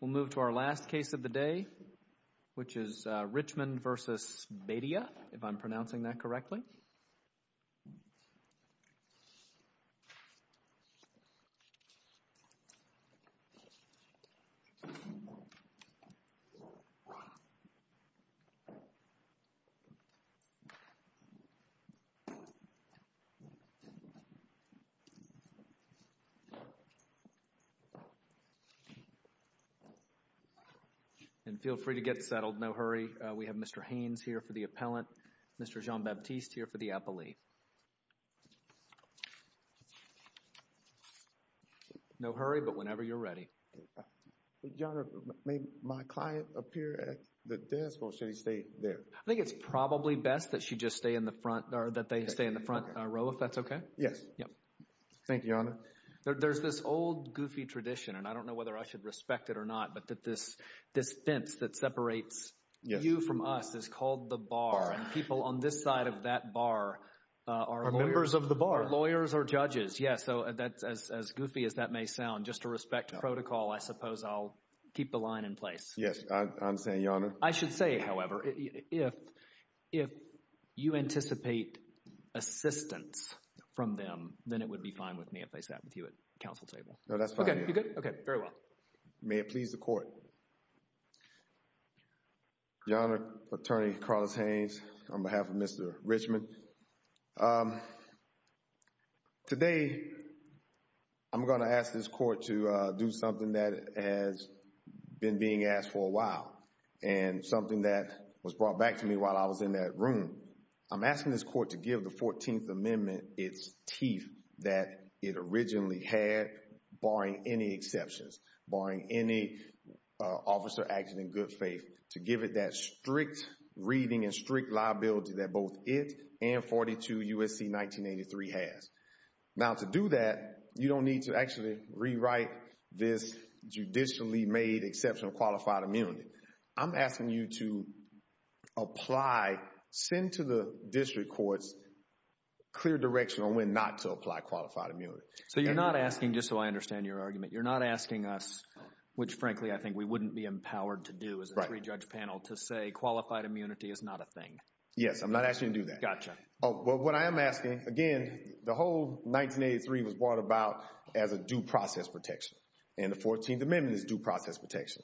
We'll move to our last case of the day, which is Richmond v. Badia, if I'm pronouncing that correctly. And feel free to get settled. No hurry. We have Mr. Haynes here for the appellant. Mr. Jean-Baptiste here for the appellee. No hurry, but whenever you're ready. John, may my client appear at the desk or should he stay there? I think it's probably best that she just stay in the front or that they stay in the front row, if that's okay. Yes. Thank you, Your Honor. There's this old, goofy tradition, and I don't know whether I should respect it or not, but that this fence that separates you from us is called the bar. And people on this side of that bar are lawyers. Are members of the bar. Are lawyers or judges, yes. So, as goofy as that may sound, just to respect protocol, I suppose I'll keep the line in place. Yes, I'm saying, Your Honor. I should say, however, if you anticipate assistance from them, then it would be fine with me if I sat with you at the counsel table. No, that's fine. Okay, you good? Okay, very well. May it please the Court. Your Honor, Attorney Carlos Haynes, on behalf of Mr. Richmond. Today, I'm going to ask this Court to do something that has been being asked for a while. And something that was brought back to me while I was in that room. I'm asking this Court to give the 14th Amendment its teeth that it originally had, barring any exceptions. Barring any officer acting in good faith. To give it that strict reading and strict liability that both it and 42 U.S.C. 1983 has. Now, to do that, you don't need to actually rewrite this judicially made exception of qualified immunity. I'm asking you to apply, send to the District Courts clear direction on when not to apply qualified immunity. So you're not asking, just so I understand your argument, you're not asking us, which frankly I think we wouldn't be empowered to do as a three-judge panel, to say qualified immunity is not a thing. Yes, I'm not asking you to do that. Gotcha. Well, what I am asking, again, the whole 1983 was brought about as a due process protection. And the 14th Amendment is due process protection.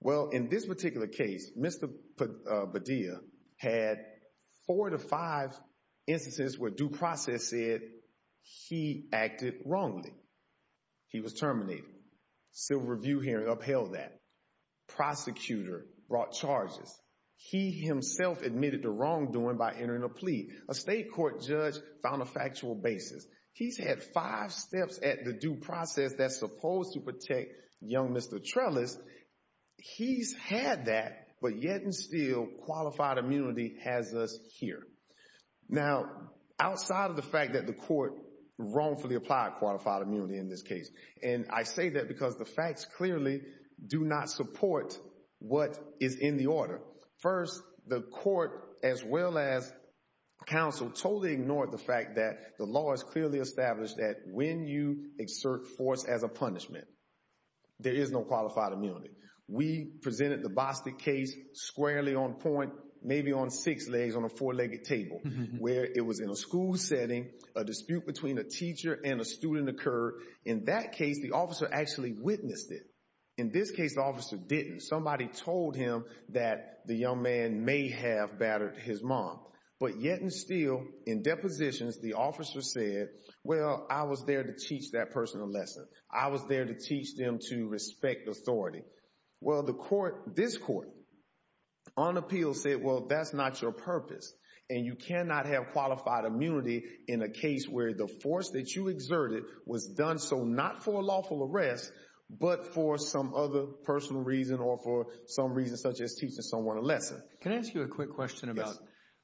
Well, in this particular case, Mr. Padilla had four to five instances where due process said he acted wrongly. He was terminated. Civil review hearing upheld that. Prosecutor brought charges. He himself admitted to wrongdoing by entering a plea. A state court judge found a factual basis. He's had five steps at the due process that's supposed to protect young Mr. Trellis. He's had that, but yet and still qualified immunity has us here. Now, outside of the fact that the court wrongfully applied qualified immunity in this case, and I say that because the facts clearly do not support what is in the order. First, the court, as well as counsel, totally ignored the fact that the law is clearly established that when you exert force as a punishment, there is no qualified immunity. We presented the Bostic case squarely on point, maybe on six legs on a four-legged table, where it was in a school setting, a dispute between a teacher and a student occurred. In that case, the officer actually witnessed it. In this case, the officer didn't. Somebody told him that the young man may have battered his mom. But yet and still, in depositions, the officer said, well, I was there to teach that person a lesson. I was there to teach them to respect authority. Well, this court, on appeal, said, well, that's not your purpose, and you cannot have qualified immunity in a case where the force that you exerted was done so not for a lawful arrest, but for some other personal reason or for some reason such as teaching someone a lesson. Can I ask you a quick question about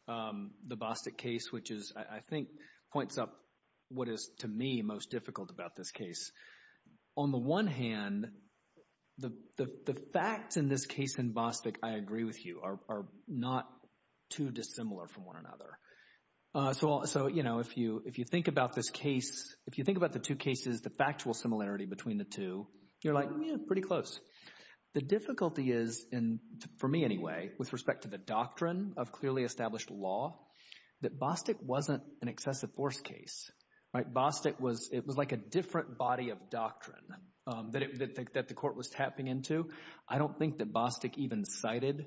the Bostic case, which I think points up what is, to me, most difficult about this case? On the one hand, the facts in this case in Bostic, I agree with you, are not too dissimilar from one another. So, you know, if you think about this case, if you think about the two cases, the factual similarity between the two, you're like, yeah, pretty close. The difficulty is, and for me anyway, with respect to the doctrine of clearly established law, that Bostic wasn't an excessive force case, right? Bostic was, it was like a different body of doctrine that the court was tapping into. I don't think that Bostic even cited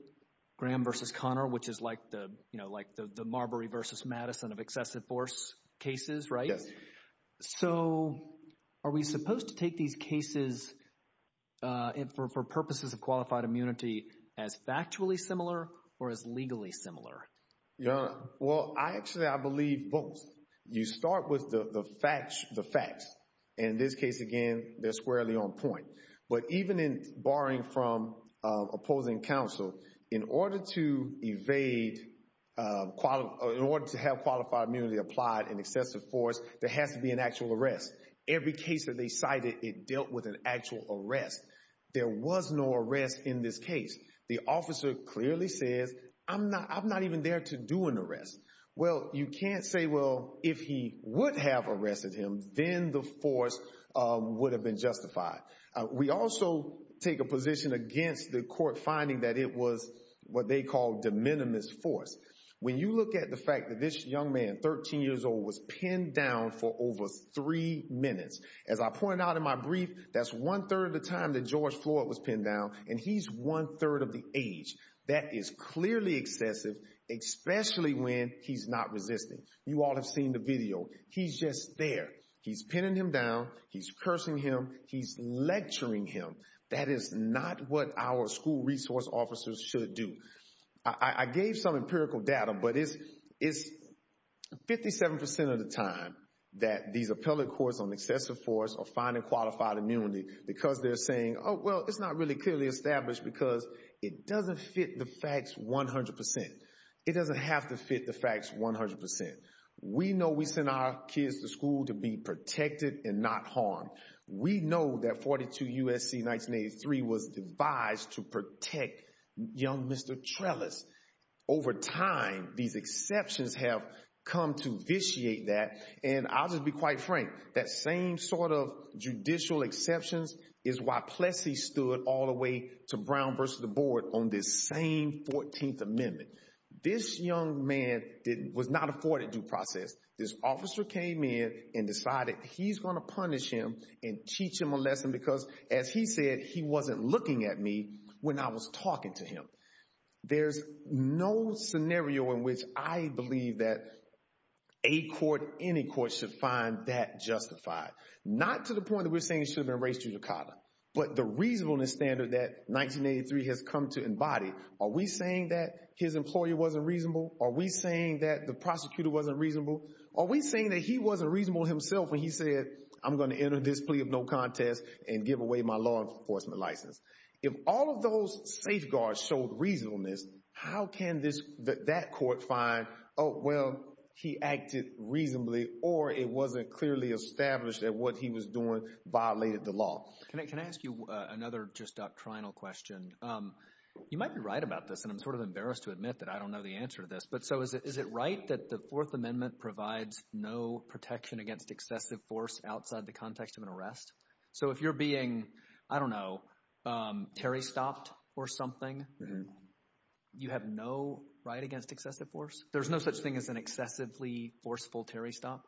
Graham versus Conner, which is like the, you know, like the Marbury versus Madison of excessive force cases, right? So are we supposed to take these cases for purposes of qualified immunity as factually similar or as legally similar? Well, actually, I believe both. You start with the facts. In this case, again, they're squarely on point. But even in barring from opposing counsel, in order to evade, in order to have qualified immunity applied in excessive force, there has to be an actual arrest. Every case that they cited, it dealt with an actual arrest. There was no arrest in this case. The officer clearly says, I'm not even there to do an arrest. Well, you can't say, well, if he would have arrested him, then the force would have been justified. We also take a position against the court finding that it was what they call de minimis force. When you look at the fact that this young man, 13 years old, was pinned down for over three minutes. As I pointed out in my brief, that's one third of the time that George Floyd was pinned down. And he's one third of the age. That is clearly excessive, especially when he's not resisting. You all have seen the video. He's just there. He's pinning him down. He's cursing him. He's lecturing him. That is not what our school resource officers should do. I gave some empirical data, but it's 57% of the time that these appellate courts on excessive force are finding qualified immunity. Because they're saying, oh, well, it's not really clearly established because it doesn't fit the facts 100%. It doesn't have to fit the facts 100%. We know we send our kids to school to be protected and not harmed. We know that 42 U.S.C. 1983 was devised to protect young Mr. Trellis. Over time, these exceptions have come to vitiate that. And I'll just be quite frank. That same sort of judicial exceptions is why Plessy stood all the way to Brown versus the board on this same 14th Amendment. This young man was not afforded due process. This officer came in and decided he's going to punish him and teach him a lesson because, as he said, he wasn't looking at me when I was talking to him. There's no scenario in which I believe that a court, any court, should find that justified. Not to the point that we're saying it should have been erased due to CODLA. But the reasonableness standard that 1983 has come to embody, are we saying that his employer wasn't reasonable? Are we saying that the prosecutor wasn't reasonable? Are we saying that he wasn't reasonable himself when he said, I'm going to enter this plea of no contest and give away my law enforcement license? If all of those safeguards showed reasonableness, how can that court find, oh, well, he acted reasonably or it wasn't clearly established that what he was doing violated the law? Can I ask you another just doctrinal question? You might be right about this, and I'm sort of embarrassed to admit that I don't know the answer to this. But so is it right that the Fourth Amendment provides no protection against excessive force outside the context of an arrest? So if you're being, I don't know, Terry stopped or something, you have no right against excessive force? There's no such thing as an excessively forceful Terry stop?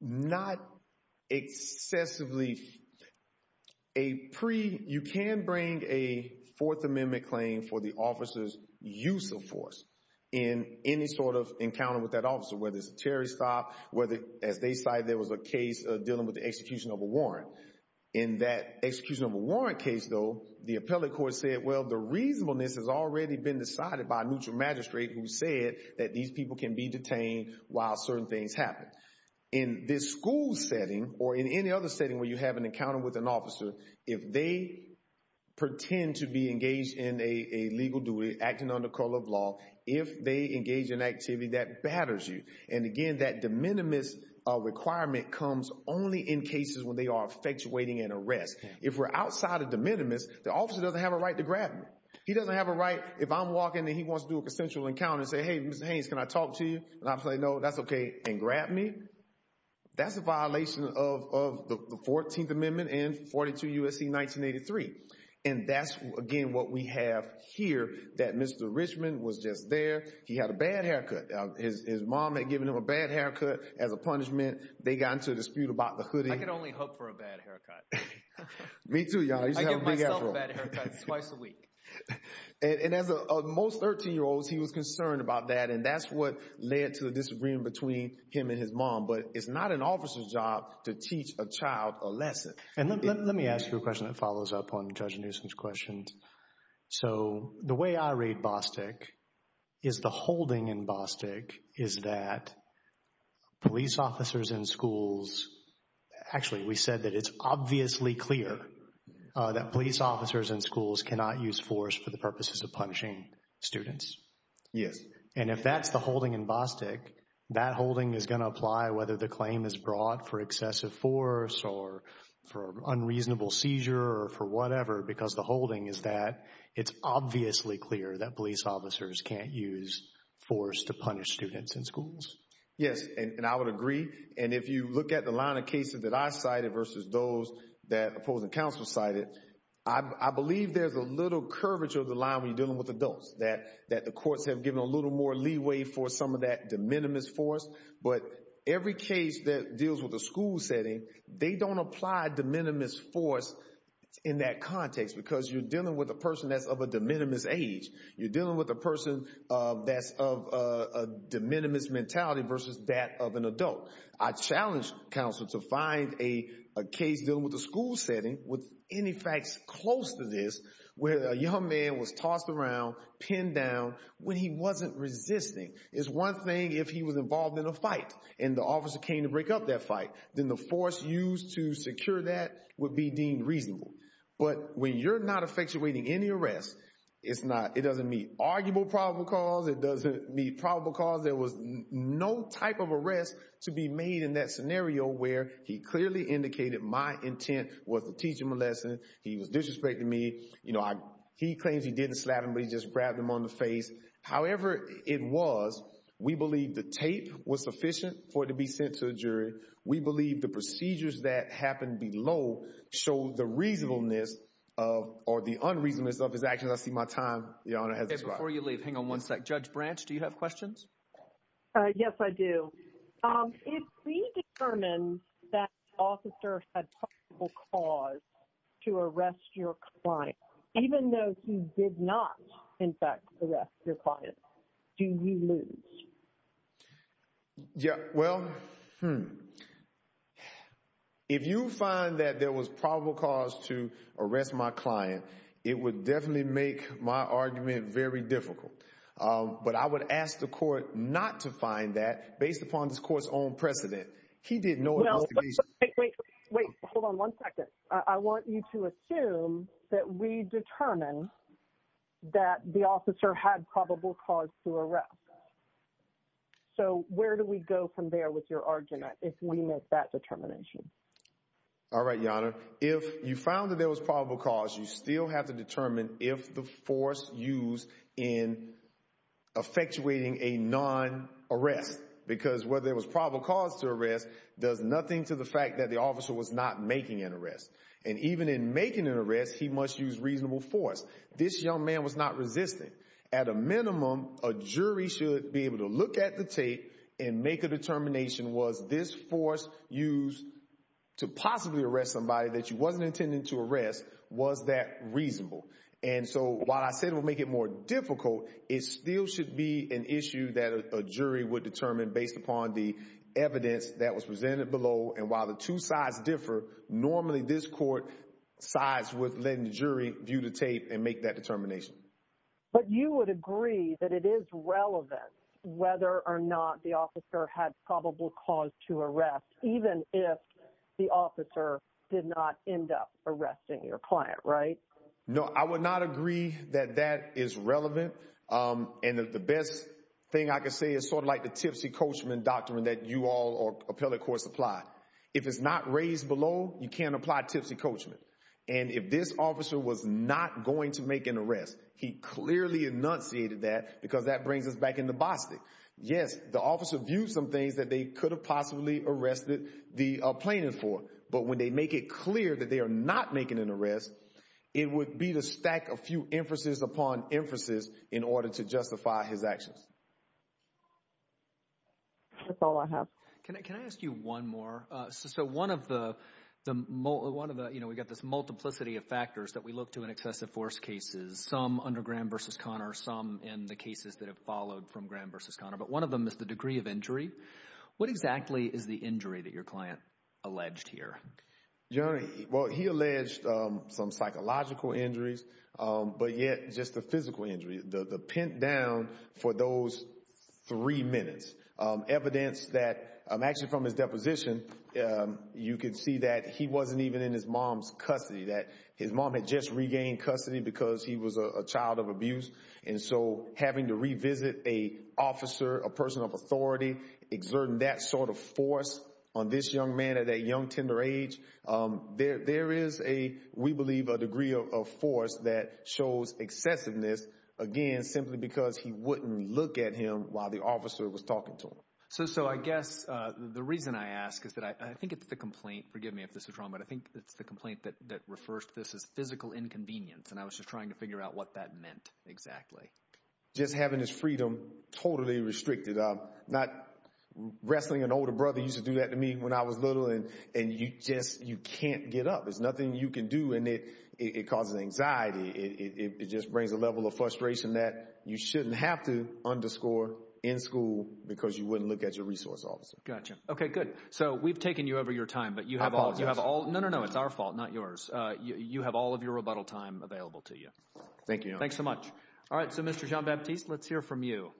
Not excessively. You can bring a Fourth Amendment claim for the officer's use of force in any sort of encounter with that officer, whether it's a Terry stop, whether, as they cite, there was a case dealing with the execution of a warrant. In that execution of a warrant case, though, the appellate court said, well, the reasonableness has already been decided by a neutral magistrate who said that these people can be detained while certain things happen. In this school setting or in any other setting where you have an encounter with an officer, if they pretend to be engaged in a legal duty, acting under the code of law, if they engage in activity that batters you. And again, that de minimis requirement comes only in cases when they are effectuating an arrest. If we're outside of de minimis, the officer doesn't have a right to grab me. He doesn't have a right, if I'm walking and he wants to do a consensual encounter and say, hey, Mr. Haynes, can I talk to you? And I'm saying, no, that's OK, and grab me? That's a violation of the 14th Amendment and 42 U.S.C. 1983. And that's, again, what we have here, that Mr. Richmond was just there. He had a bad haircut. His mom had given him a bad haircut as a punishment. They got into a dispute about the hoodie. I can only hope for a bad haircut. Me too, y'all. I give myself a bad haircut twice a week. And as most 13-year-olds, he was concerned about that. And that's what led to the disagreement between him and his mom. But it's not an officer's job to teach a child a lesson. And let me ask you a question that follows up on Judge Newsom's questions. So the way I read Bostick is the holding in Bostick is that police officers in schools – actually, we said that it's obviously clear that police officers in schools cannot use force for the purposes of punishing students. Yes. And if that's the holding in Bostick, that holding is going to apply whether the claim is brought for excessive force or for unreasonable seizure or for whatever because the holding is that it's obviously clear that police officers can't use force to punish students in schools. Yes. And I would agree. And if you look at the line of cases that I cited versus those that opposing counsel cited, I believe there's a little curvature of the line when you're dealing with adults, that the courts have given a little more leeway for some of that de minimis force. But every case that deals with a school setting, they don't apply de minimis force in that context because you're dealing with a person that's of a de minimis age. You're dealing with a person that's of a de minimis mentality versus that of an adult. I challenge counsel to find a case dealing with a school setting with any facts close to this where a young man was tossed around, pinned down, when he wasn't resisting. It's one thing if he was involved in a fight and the officer came to break up that fight. Then the force used to secure that would be deemed reasonable. But when you're not effectuating any arrest, it doesn't meet arguable probable cause. It doesn't meet probable cause. There was no type of arrest to be made in that scenario where he clearly indicated my intent was to teach him a lesson. He was disrespecting me. He claims he didn't slap him, but he just grabbed him on the face. However it was, we believe the tape was sufficient for it to be sent to a jury. We believe the procedures that happened below show the reasonableness or the unreasonableness of his actions. I see my time. The Honor has expired. Before you leave, hang on one sec. Judge Branch, do you have questions? Yes, I do. If we determine that the officer had probable cause to arrest your client, even though he did not, in fact, arrest your client, do you lose? Yeah, well, if you find that there was probable cause to arrest my client, it would definitely make my argument very difficult. But I would ask the court not to find that based upon this court's own precedent. He didn't know it was the case. Wait, wait, wait. Hold on one second. I want you to assume that we determined that the officer had probable cause to arrest. So where do we go from there with your argument if we make that determination? All right, Your Honor. If you found that there was probable cause, you still have to determine if the force used in effectuating a non-arrest. Because whether there was probable cause to arrest does nothing to the fact that the officer was not making an arrest. And even in making an arrest, he must use reasonable force. This young man was not resisting. At a minimum, a jury should be able to look at the tape and make a determination, was this force used to possibly arrest somebody that you wasn't intending to arrest, was that reasonable? And so while I said it would make it more difficult, it still should be an issue that a jury would determine based upon the evidence that was presented below. And while the two sides differ, normally this court sides with letting the jury view the tape and make that determination. But you would agree that it is relevant whether or not the officer had probable cause to arrest, even if the officer did not end up arresting your client, right? No, I would not agree that that is relevant. And the best thing I can say is sort of like the tipsy coachman doctrine that you all or appellate courts apply. If it's not raised below, you can't apply tipsy coachman. And if this officer was not going to make an arrest, he clearly enunciated that because that brings us back into Boston. Yes, the officer viewed some things that they could have possibly arrested the plaintiff for. But when they make it clear that they are not making an arrest, it would be to stack a few emphases upon emphases in order to justify his actions. That's all I have. Can I ask you one more? So one of the, you know, we've got this multiplicity of factors that we look to in excessive force cases, some under Graham v. Conner, some in the cases that have followed from Graham v. Conner. But one of them is the degree of injury. What exactly is the injury that your client alleged here? Well, he alleged some psychological injuries, but yet just the physical injury, the pin down for those three minutes. Evidence that actually from his deposition, you can see that he wasn't even in his mom's custody, that his mom had just regained custody because he was a child of abuse. And so having to revisit a officer, a person of authority, exerting that sort of force on this young man at a young tender age, there is a, we believe, a degree of force that shows excessiveness, again, simply because he wouldn't look at him while the officer was talking to him. So I guess the reason I ask is that I think it's the complaint, forgive me if this is wrong, but I think it's the complaint that refers to this as physical inconvenience. And I was just trying to figure out what that meant exactly. Just having this freedom totally restricted. Not wrestling an older brother used to do that to me when I was little, and you just, you can't get up. There's nothing you can do, and it causes anxiety. It just brings a level of frustration that you shouldn't have to underscore in school because you wouldn't look at your resource officer. Gotcha. Okay, good. So we've taken you over your time. I apologize. No, no, no, it's our fault, not yours. You have all of your rebuttal time available to you. Thank you, Your Honor. Thanks so much. All right, so Mr. Jean-Baptiste, let's hear from you.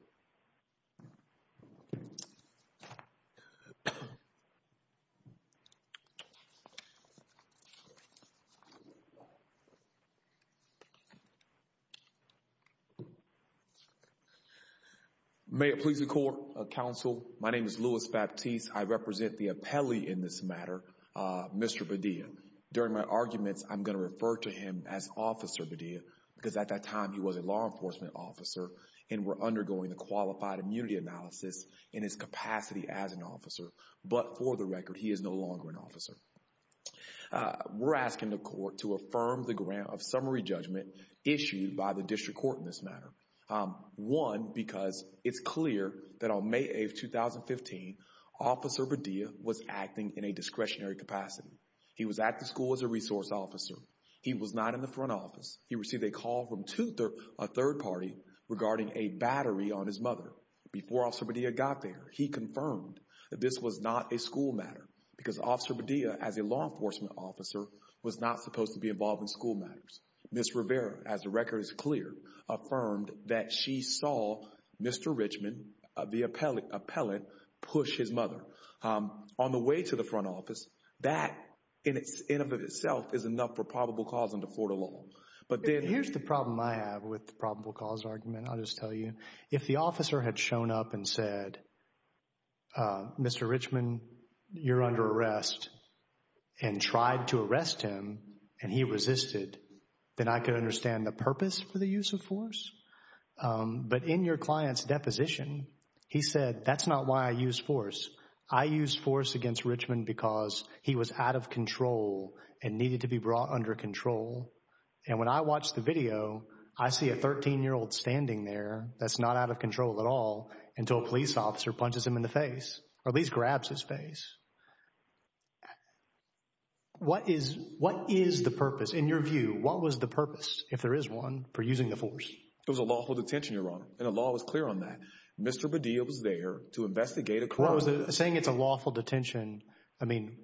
May it please the Court, Counsel, my name is Louis Baptiste. I represent the appellee in this matter, Mr. Padilla. During my arguments, I'm going to refer to him as Officer Padilla because at that time he was a law enforcement officer and were undergoing a qualified immunity analysis in his capacity as an officer. But for the record, he is no longer an officer. We're asking the Court to affirm the grant of summary judgment issued by the District Court in this matter. One, because it's clear that on May 8, 2015, Officer Padilla was acting in a discretionary capacity. He was at the school as a resource officer. He was not in the front office. He received a call from a third party regarding a battery on his mother. Before Officer Padilla got there, he confirmed that this was not a school matter because Officer Padilla, as a law enforcement officer, was not supposed to be involved in school matters. Ms. Rivera, as the record is clear, affirmed that she saw Mr. Richmond, the appellate, push his mother. On the way to the front office, that, in and of itself, is enough for probable cause and to fort a law. Here's the problem I have with the probable cause argument, I'll just tell you. If the officer had shown up and said, Mr. Richmond, you're under arrest, and tried to arrest him, and he resisted, then I could understand the purpose for the use of force. But in your client's deposition, he said, that's not why I used force. I used force against Richmond because he was out of control and needed to be brought under control. And when I watch the video, I see a 13-year-old standing there that's not out of control at all until a police officer punches him in the face, or at least grabs his face. What is the purpose, in your view, what was the purpose, if there is one, for using the force? It was a lawful detention, Your Honor, and the law was clear on that. Mr. Padilla was there to investigate a corruption. Saying it's a lawful detention, I mean,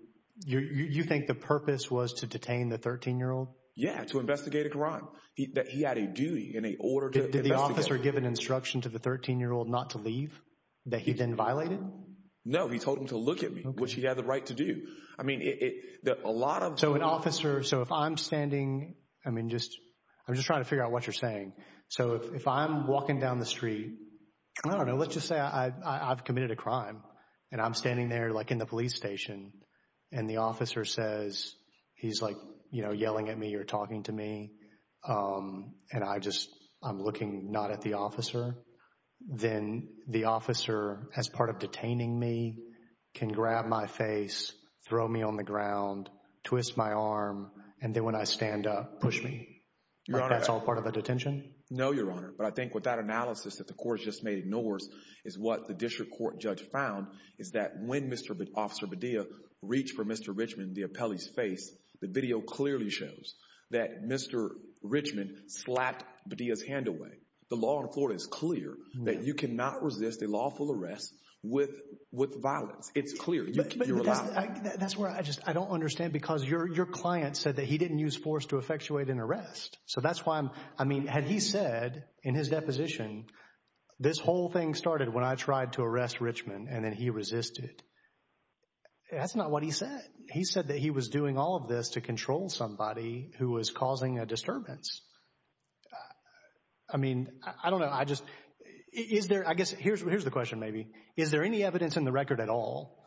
you think the purpose was to detain the 13-year-old? Yeah, to investigate a crime, that he had a duty and an order to investigate. Did the officer give an instruction to the 13-year-old not to leave, that he then violated? No, he told him to look at me, which he had the right to do. So an officer, so if I'm standing, I mean, I'm just trying to figure out what you're saying. So if I'm walking down the street, I don't know, let's just say I've committed a crime, and I'm standing there in the police station, and the officer says, he's yelling at me or talking to me, and I just, I'm looking not at the officer, then the officer, as part of detaining me, can grab my face, throw me on the ground, twist my arm, and then when I stand up, push me. That's all part of the detention? No, Your Honor, but I think with that analysis that the court has just made ignores, is what the district court judge found, is that when Mr. Officer Padilla reached for Mr. Richmond, the appellee's face, the video clearly shows that Mr. Richmond slapped Padilla's hand away. The law in Florida is clear that you cannot resist a lawful arrest with violence. It's clear. You're allowed. That's where I just, I don't understand because your client said that he didn't use force to effectuate an arrest. So that's why I'm, I mean, had he said in his deposition, this whole thing started when I tried to arrest Richmond, and then he resisted, that's not what he said. He said that he was doing all of this to control somebody who was causing a disturbance. I mean, I don't know. I just, is there, I guess, here's the question maybe. Is there any evidence in the record at all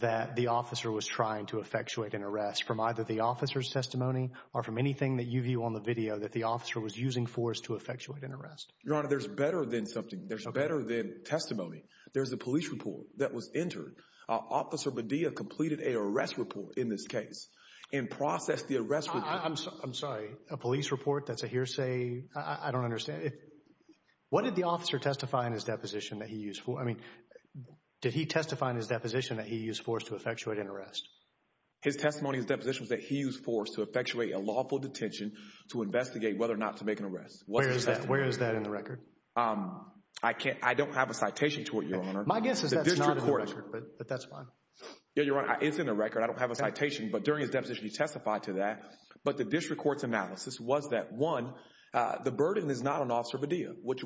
that the officer was trying to effectuate an arrest from either the officer's testimony or from anything that you view on the video that the officer was using force to effectuate an arrest? Your Honor, there's better than something. There's better than testimony. There's a police report that was entered. Officer Medea completed a arrest report in this case and processed the arrest report. I'm sorry, a police report? That's a hearsay? I don't understand. What did the officer testify in his deposition that he used force? I mean, did he testify in his deposition that he used force to effectuate an arrest? His testimony in his deposition was that he used force to effectuate a lawful detention to investigate whether or not to make an arrest. Where is that? Where is that in the record? I don't have a citation to it, Your Honor. My guess is that's not in the record, but that's fine. Yeah, Your Honor, it's in the record. I don't have a citation. But during his deposition, he testified to that. But the district court's analysis was that, one, the burden is not on Officer Medea, which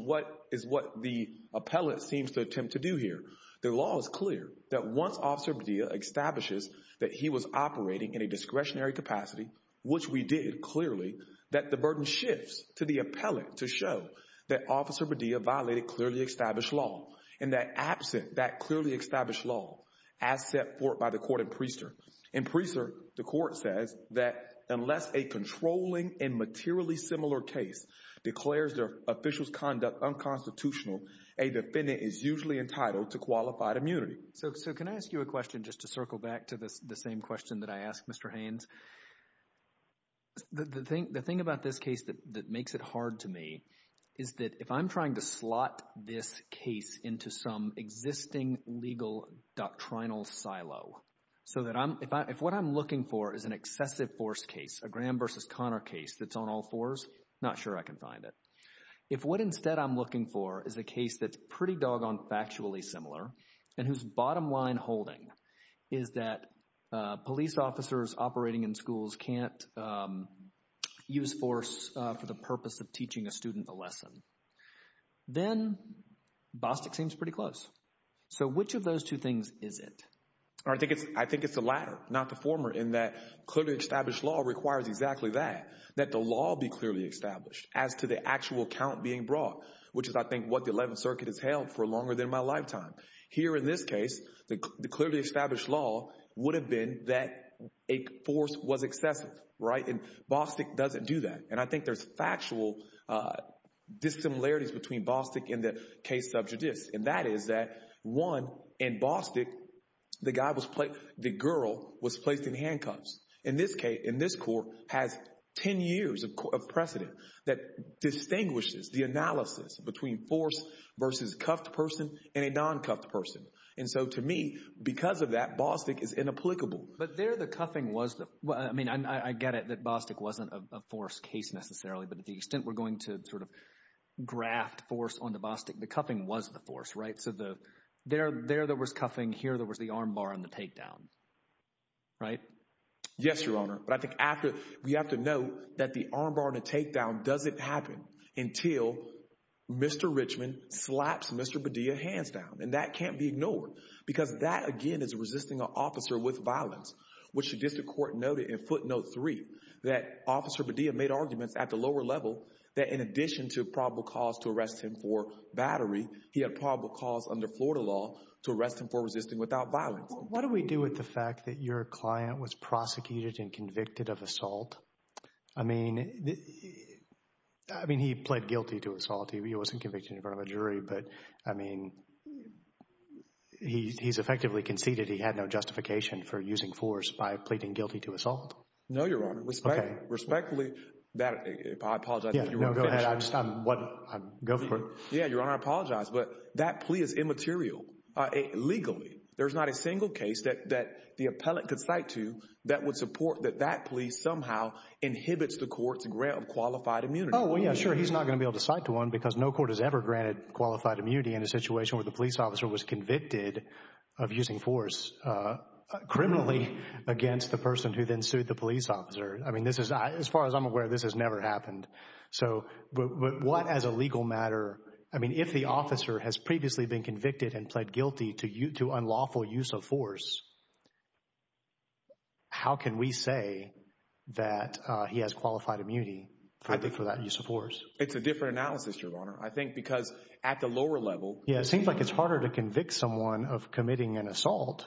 is what the appellate seems to attempt to do here. The law is clear that once Officer Medea establishes that he was operating in a discretionary capacity, which we did clearly, that the burden shifts to the appellate to show that Officer Medea violated clearly established law and that absent that clearly established law, as set forth by the court in Priester. In Priester, the court says that unless a controlling and materially similar case declares their official's conduct unconstitutional, a defendant is usually entitled to qualified immunity. So can I ask you a question just to circle back to the same question that I asked Mr. Haynes? The thing about this case that makes it hard to me is that if I'm trying to slot this case into some existing legal doctrinal silo, so that if what I'm looking for is an excessive force case, a Graham v. Connor case that's on all fours, not sure I can find it. If what instead I'm looking for is a case that's pretty doggone factually similar and whose bottom line holding is that police officers operating in schools can't use force for the purpose of teaching a student a lesson, then Bostic seems pretty close. So which of those two things is it? I think it's the latter, not the former, in that clearly established law requires exactly that, that the law be clearly established as to the actual count being brought, which is, I think, what the Eleventh Circuit has held for longer than my lifetime. Here in this case, the clearly established law would have been that a force was excessive, right? And Bostic doesn't do that. And I think there's factual dissimilarities between Bostic and the case sub judice, and that is that, one, in Bostic, the girl was placed in handcuffs. In this case, in this court, has 10 years of precedent that distinguishes the analysis between force versus cuffed person and a non-cuffed person. And so to me, because of that, Bostic is inapplicable. But there the cuffing was—I mean, I get it that Bostic wasn't a force case necessarily, but to the extent we're going to sort of graft force onto Bostic, the cuffing was the force, right? So there there was cuffing. Here there was the arm bar and the takedown, right? Yes, Your Honor. But I think after—we have to note that the arm bar and the takedown doesn't happen until Mr. Richmond slaps Mr. Padilla hands down, and that can't be ignored because that, again, is resisting an officer with violence, which the district court noted in footnote 3 that Officer Padilla made arguments at the lower level that in addition to probable cause to arrest him for battery, he had probable cause under Florida law to arrest him for resisting without violence. What do we do with the fact that your client was prosecuted and convicted of assault? I mean, he pled guilty to assault. He wasn't convicted in front of a jury, but, I mean, he's effectively conceded he had no justification for using force by pleading guilty to assault. No, Your Honor. Respectfully—I apologize if you want to finish. No, go ahead. Go for it. Yeah, Your Honor, I apologize. But that plea is immaterial legally. There's not a single case that the appellant could cite to that would support that that plea somehow inhibits the court's grant of qualified immunity. Oh, yeah, sure. He's not going to be able to cite to one because no court has ever granted qualified immunity in a situation where the police officer was convicted of using force criminally against the person who then sued the police officer. I mean, this is—as far as I'm aware, this has never happened. So, but what as a legal matter—I mean, if the officer has previously been convicted and pled guilty to unlawful use of force, how can we say that he has qualified immunity for that use of force? It's a different analysis, Your Honor. I think because at the lower level— Yeah, it seems like it's harder to convict someone of committing an assault.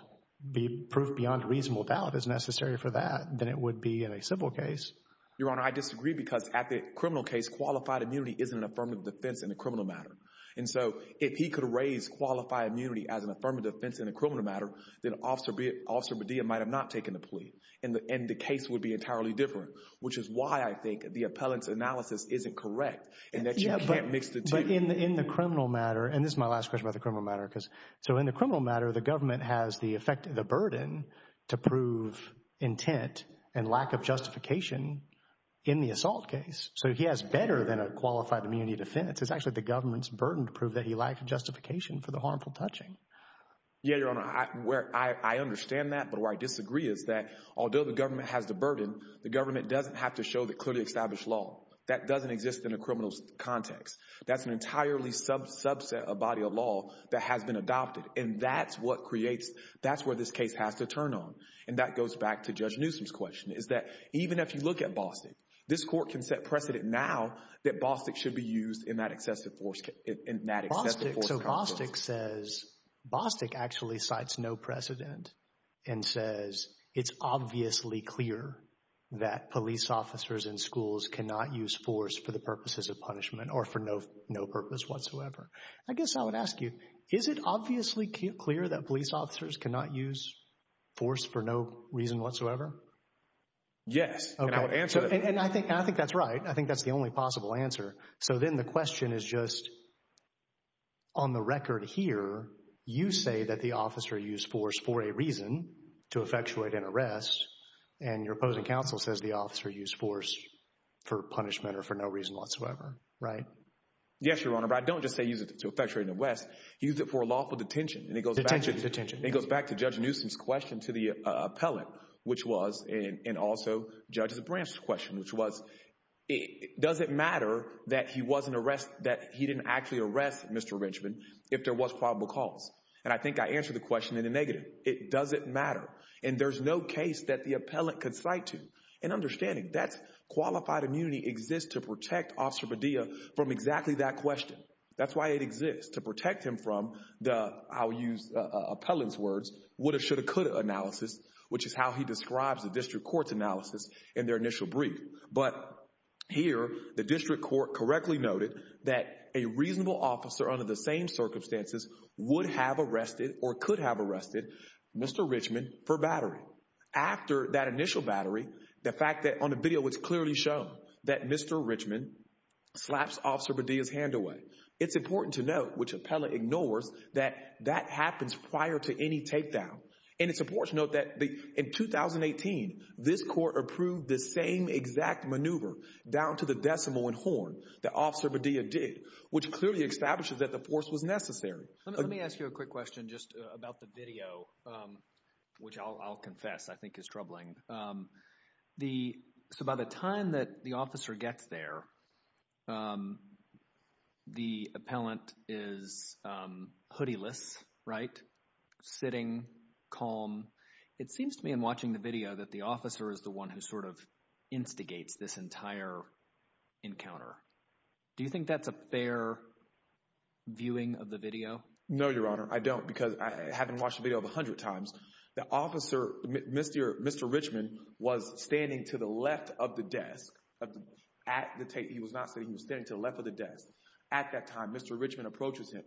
Proof beyond reasonable doubt is necessary for that than it would be in a civil case. Your Honor, I disagree because at the criminal case, qualified immunity isn't an affirmative defense in a criminal matter. And so if he could raise qualified immunity as an affirmative defense in a criminal matter, then Officer Medea might have not taken the plea, and the case would be entirely different, which is why I think the appellant's analysis isn't correct in that you can't mix the two. But in the criminal matter—and this is my last question about the criminal matter. So in the criminal matter, the government has the burden to prove intent and lack of justification in the assault case. So he has better than a qualified immunity defense. It's actually the government's burden to prove that he lacked justification for the harmful touching. Yeah, Your Honor, I understand that. But where I disagree is that although the government has the burden, the government doesn't have to show the clearly established law. That doesn't exist in a criminal context. That's an entirely subset of body of law that has been adopted. And that's what creates—that's where this case has to turn on. And that goes back to Judge Newsom's question, is that even if you look at Bostick, this court can set precedent now that Bostick should be used in that excessive force. So Bostick says—Bostick actually cites no precedent and says it's obviously clear that police officers in schools cannot use force for the purposes of punishment or for no purpose whatsoever. I guess I would ask you, is it obviously clear that police officers cannot use force for no reason whatsoever? Yes, and I would answer— And I think that's right. I think that's the only possible answer. So then the question is just, on the record here, you say that the officer used force for a reason, to effectuate an arrest, and your opposing counsel says the officer used force for punishment or for no reason whatsoever, right? Yes, Your Honor, but I don't just say use it to effectuate an arrest. Use it for a lawful detention. Detention, detention. It goes back to Judge Newsom's question to the appellant, which was, and also Judge Zabranch's question, which was, does it matter that he wasn't arrested—that he didn't actually arrest Mr. Richmond if there was probable cause? And I think I answered the question in the negative. It doesn't matter, and there's no case that the appellant could cite to. And understanding that qualified immunity exists to protect Officer Padilla from exactly that question. That's why it exists, to protect him from the, I'll use the appellant's words, woulda, shoulda, coulda analysis, which is how he describes the district court's analysis in their initial brief. But here, the district court correctly noted that a reasonable officer under the same circumstances would have arrested or could have arrested Mr. Richmond for battery. After that initial battery, the fact that on the video it's clearly shown that Mr. Richmond slaps Officer Padilla's hand away, it's important to note, which appellant ignores, that that happens prior to any tape down. And it's important to note that in 2018, this court approved the same exact maneuver down to the decimal and horn that Officer Padilla did, which clearly establishes that the force was necessary. Let me ask you a quick question just about the video, which I'll confess I think is troubling. So by the time that the officer gets there, the appellant is hoody-less, right? Sitting, calm. It seems to me in watching the video that the officer is the one who sort of instigates this entire encounter. Do you think that's a fair viewing of the video? No, Your Honor, I don't because I haven't watched the video a hundred times. The officer, Mr. Richmond, was standing to the left of the desk at the tape. He was not sitting, he was standing to the left of the desk. At that time, Mr. Richmond approaches him,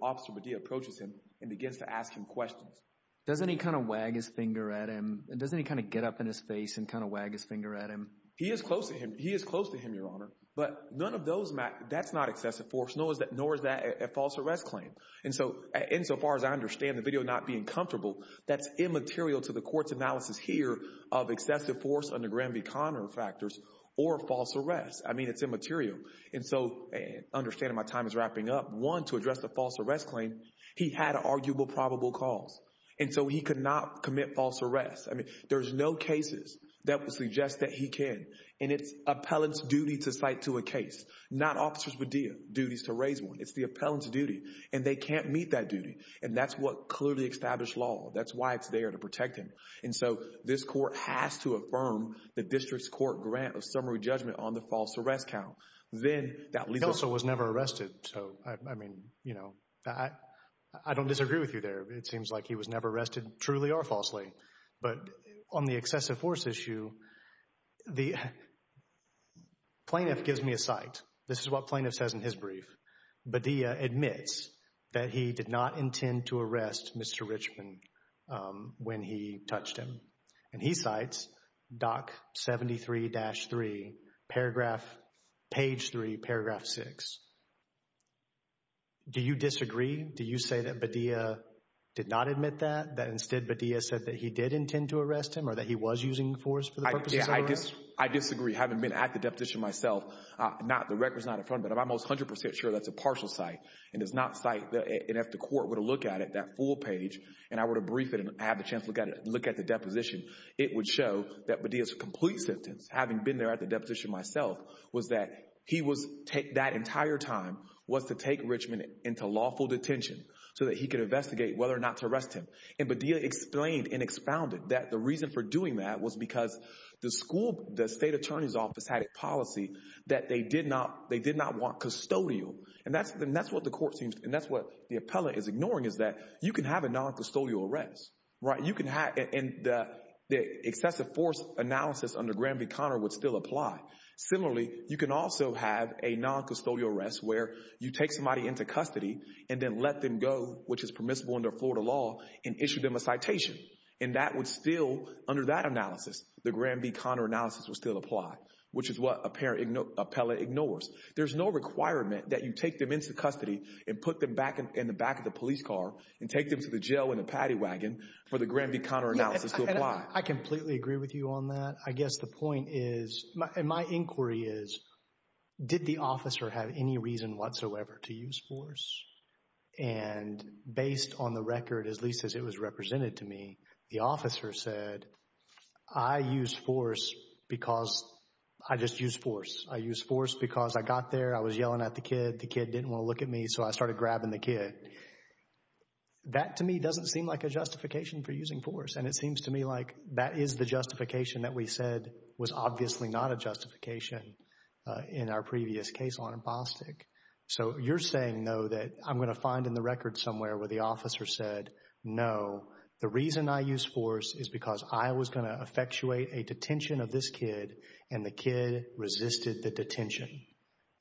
Officer Padilla approaches him and begins to ask him questions. Doesn't he kind of wag his finger at him? Doesn't he kind of get up in his face and kind of wag his finger at him? He is close to him. He is close to him, Your Honor, but none of those, that's not excessive force, nor is that a false arrest claim. And so, insofar as I understand the video not being comfortable, that's immaterial to the court's analysis here of excessive force under Graham v. Conner factors or false arrest. I mean, it's immaterial. And so, understanding my time is wrapping up, one, to address the false arrest claim, he had arguable probable cause. And so he could not commit false arrest. I mean, there's no cases that would suggest that he can. And it's appellant's duty to cite to a case, not Officer Padilla's duties to raise one. It's the appellant's duty. And they can't meet that duty. And that's what clearly established law. That's why it's there, to protect him. And so this court has to affirm the district's court grant of summary judgment on the false arrest count. Then that leaves us… The counsel was never arrested, so, I mean, you know, I don't disagree with you there. It seems like he was never arrested, truly or falsely. But on the excessive force issue, the plaintiff gives me a cite. This is what plaintiff says in his brief. Padilla admits that he did not intend to arrest Mr. Richmond when he touched him. And he cites Doc 73-3, paragraph, page 3, paragraph 6. Do you disagree? Do you say that Padilla did not admit that? That instead Padilla said that he did intend to arrest him or that he was using force for the purposes of arrest? I disagree. Having been at the deposition myself, the record's not in front of me, but I'm almost 100 percent sure that's a partial cite. And it's not cite. And if the court were to look at it, that full page, and I were to brief it and have the chance to look at the deposition, it would show that Padilla's complete sentence, having been there at the deposition myself, was that he was, that entire time, was to take Richmond into lawful detention so that he could investigate whether or not to arrest him. And Padilla explained and expounded that the reason for doing that was because the school, the state attorney's office, had a policy that they did not want custodial. And that's what the court seems, and that's what the appellant is ignoring, is that you can have a noncustodial arrest. And the excessive force analysis under Granby-Connor would still apply. Similarly, you can also have a noncustodial arrest where you take somebody into custody and then let them go, which is permissible under Florida law, and issue them a citation. And that would still, under that analysis, the Granby-Connor analysis would still apply, which is what appellant ignores. There's no requirement that you take them into custody and put them back in the back of the police car and take them to the jail in a paddy wagon for the Granby-Connor analysis to apply. I completely agree with you on that. I guess the point is, and my inquiry is, did the officer have any reason whatsoever to use force? And based on the record, at least as it was represented to me, the officer said, I use force because I just use force. I use force because I got there, I was yelling at the kid, the kid didn't want to look at me, so I started grabbing the kid. That, to me, doesn't seem like a justification for using force. And it seems to me like that is the justification that we said was obviously not a justification in our previous case on Bostic. So you're saying, though, that I'm going to find in the record somewhere where the officer said, no, the reason I use force is because I was going to effectuate a detention of this kid, and the kid resisted the detention,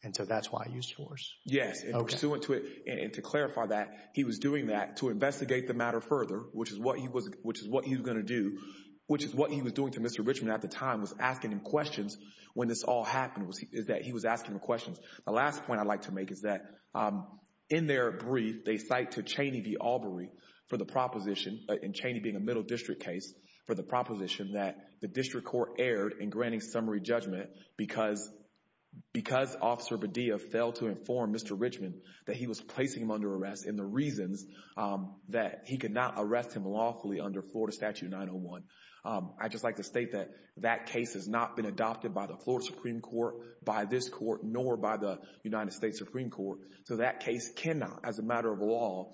and so that's why I used force. Yes, and pursuant to it, and to clarify that, he was doing that to investigate the matter further, which is what he was going to do, which is what he was doing to Mr. Richmond at the time, was asking him questions when this all happened, is that he was asking him questions. The last point I'd like to make is that in their brief, they cite to Cheney v. Albury for the proposition, and Cheney being a middle district case, for the proposition that the district court erred in granting summary judgment because Officer Badilla failed to inform Mr. Richmond that he was placing him under arrest, and the reasons that he could not arrest him lawfully under Florida Statute 901. I'd just like to state that that case has not been adopted by the Florida Supreme Court, by this court, nor by the United States Supreme Court, so that case cannot, as a matter of law,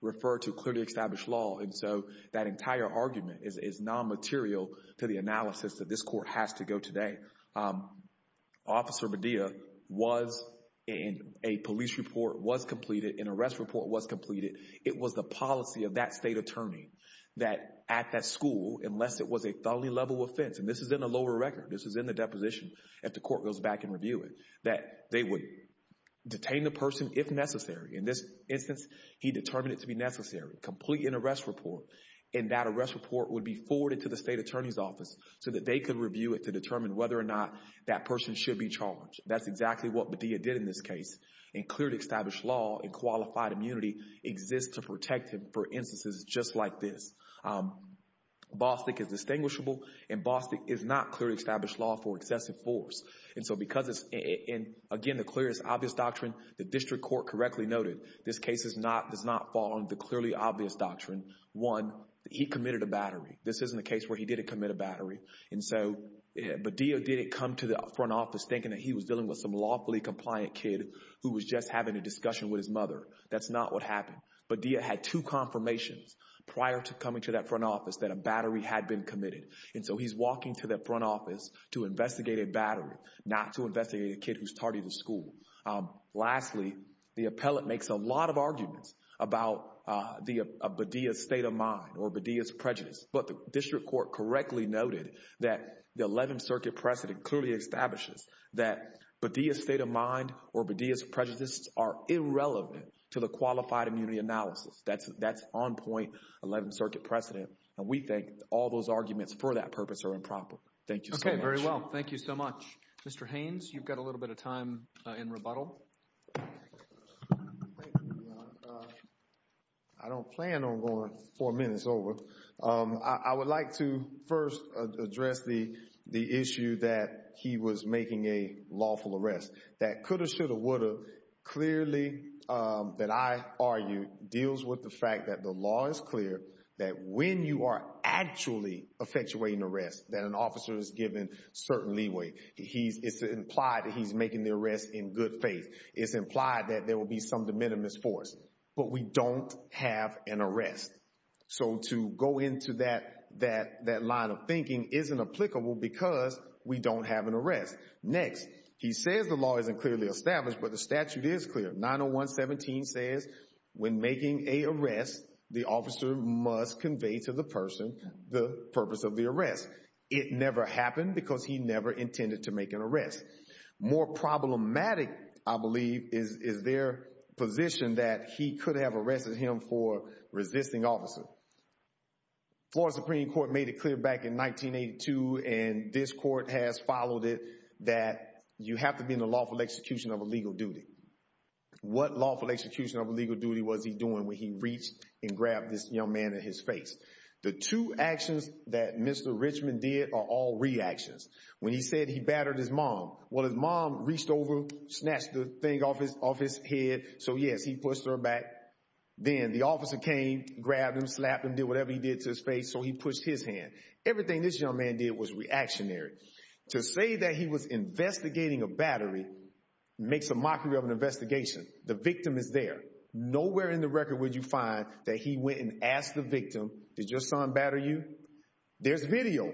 refer to clearly established law, and so that entire argument is non-material to the analysis that this court has to go today. Officer Badilla was in a police report, was completed, an arrest report was completed. It was the policy of that state attorney that at that school, unless it was a felony level offense, and this is in the lower record, this is in the deposition if the court goes back and review it, that they would detain the person if necessary. In this instance, he determined it to be necessary, complete an arrest report, and that arrest report would be forwarded to the state attorney's office so that they could review it to determine whether or not that person should be charged. That's exactly what Badilla did in this case, and clearly established law and qualified immunity exists to protect him for instances just like this. Bostick is distinguishable, and Bostick is not clearly established law for excessive force, and so because it's, again, the clearest obvious doctrine, the district court correctly noted, this case does not fall under the clearly obvious doctrine. One, he committed a battery. This isn't a case where he didn't commit a battery, and so Badilla didn't come to the front office thinking that he was dealing with some lawfully compliant kid who was just having a discussion with his mother. That's not what happened. Badilla had two confirmations prior to coming to that front office that a battery had been committed, and so he's walking to that front office to investigate a battery, not to investigate a kid who's tardy to school. Lastly, the appellate makes a lot of arguments about Badilla's state of mind or Badilla's prejudice, but the district court correctly noted that the Eleventh Circuit precedent clearly establishes that Badilla's state of mind or Badilla's prejudice are irrelevant to the qualified immunity analysis. That's on point, Eleventh Circuit precedent, and we think all those arguments for that purpose are improper. Thank you so much. Okay, very well. Thank you so much. Mr. Haynes, you've got a little bit of time in rebuttal. Thank you. I don't plan on going four minutes over. I would like to first address the issue that he was making a lawful arrest. That could have, should have, would have clearly, that I argue, deals with the fact that the law is clear that when you are actually effectuating an arrest, that an officer is given certain leeway. It's implied that he's making the arrest in good faith. It's implied that there will be some de minimis for us, but we don't have an arrest. So to go into that line of thinking isn't applicable because we don't have an arrest. Next, he says the law isn't clearly established, but the statute is clear. 901-17 says when making an arrest, the officer must convey to the person the purpose of the arrest. It never happened because he never intended to make an arrest. More problematic, I believe, is their position that he could have arrested him for resisting officer. Florida Supreme Court made it clear back in 1982, and this court has followed it, that you have to be in the lawful execution of a legal duty. What lawful execution of a legal duty was he doing when he reached and grabbed this young man in his face? The two actions that Mr. Richmond did are all reactions. When he said he battered his mom, well, his mom reached over, snatched the thing off his head. So, yes, he pushed her back. Then the officer came, grabbed him, slapped him, did whatever he did to his face, so he pushed his hand. Everything this young man did was reactionary. To say that he was investigating a battery makes a mockery of an investigation. The victim is there. Nowhere in the record would you find that he went and asked the victim, did your son batter you? There's video.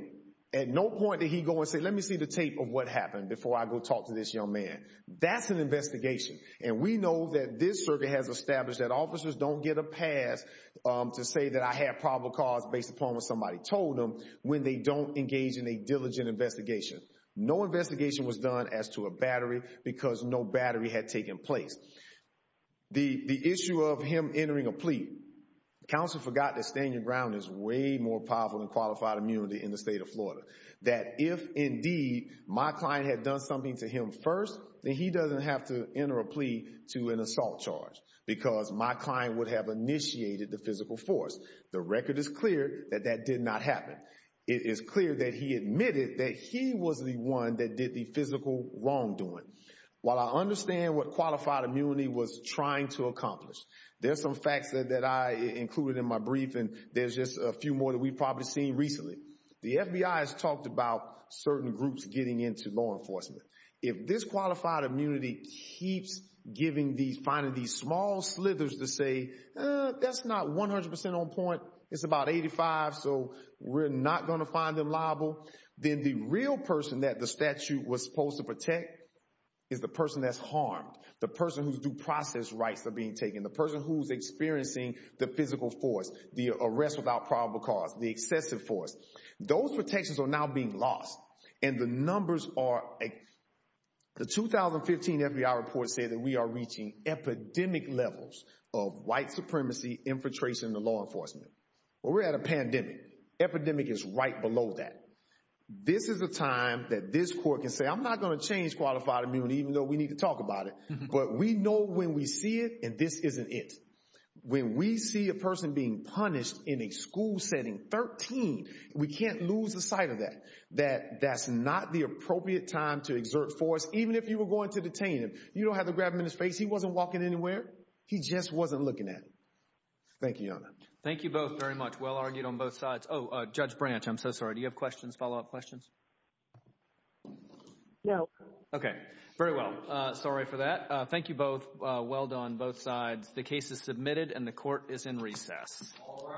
At no point did he go and say, let me see the tape of what happened before I go talk to this young man. That's an investigation. And we know that this circuit has established that officers don't get a pass to say that I have probable cause based upon what somebody told them when they don't engage in a diligent investigation. No investigation was done as to a battery because no battery had taken place. The issue of him entering a plea, counsel forgot that standing ground is way more powerful than qualified immunity in the state of Florida. That if, indeed, my client had done something to him first, then he doesn't have to enter a plea to an assault charge because my client would have initiated the physical force. The record is clear that that did not happen. It is clear that he admitted that he was the one that did the physical wrongdoing. While I understand what qualified immunity was trying to accomplish, there's some facts that I included in my brief and there's just a few more that we've probably seen recently. The FBI has talked about certain groups getting into law enforcement. If this qualified immunity keeps giving these, finding these small slithers to say, that's not 100% on point, it's about 85, so we're not going to find them liable. Then the real person that the statute was supposed to protect is the person that's harmed, the person whose due process rights are being taken, the person who's experiencing the physical force, the arrest without probable cause, the excessive force. Those protections are now being lost and the numbers are, the 2015 FBI report said that we are reaching epidemic levels of white supremacy infiltration into law enforcement. We're at a pandemic. Epidemic is right below that. This is a time that this court can say, I'm not going to change qualified immunity even though we need to talk about it, but we know when we see it and this isn't it. When we see a person being punished in a school setting, 13, we can't lose the sight of that. That's not the appropriate time to exert force, even if you were going to detain him. You don't have to grab him in his face. He wasn't walking anywhere. He just wasn't looking at him. Thank you, Your Honor. Thank you both very much. Well argued on both sides. Oh, Judge Branch, I'm so sorry. Do you have questions, follow-up questions? No. Okay. Very well. Sorry for that. Thank you both. Well done, both sides. The case is submitted and the court is in recess. All rise.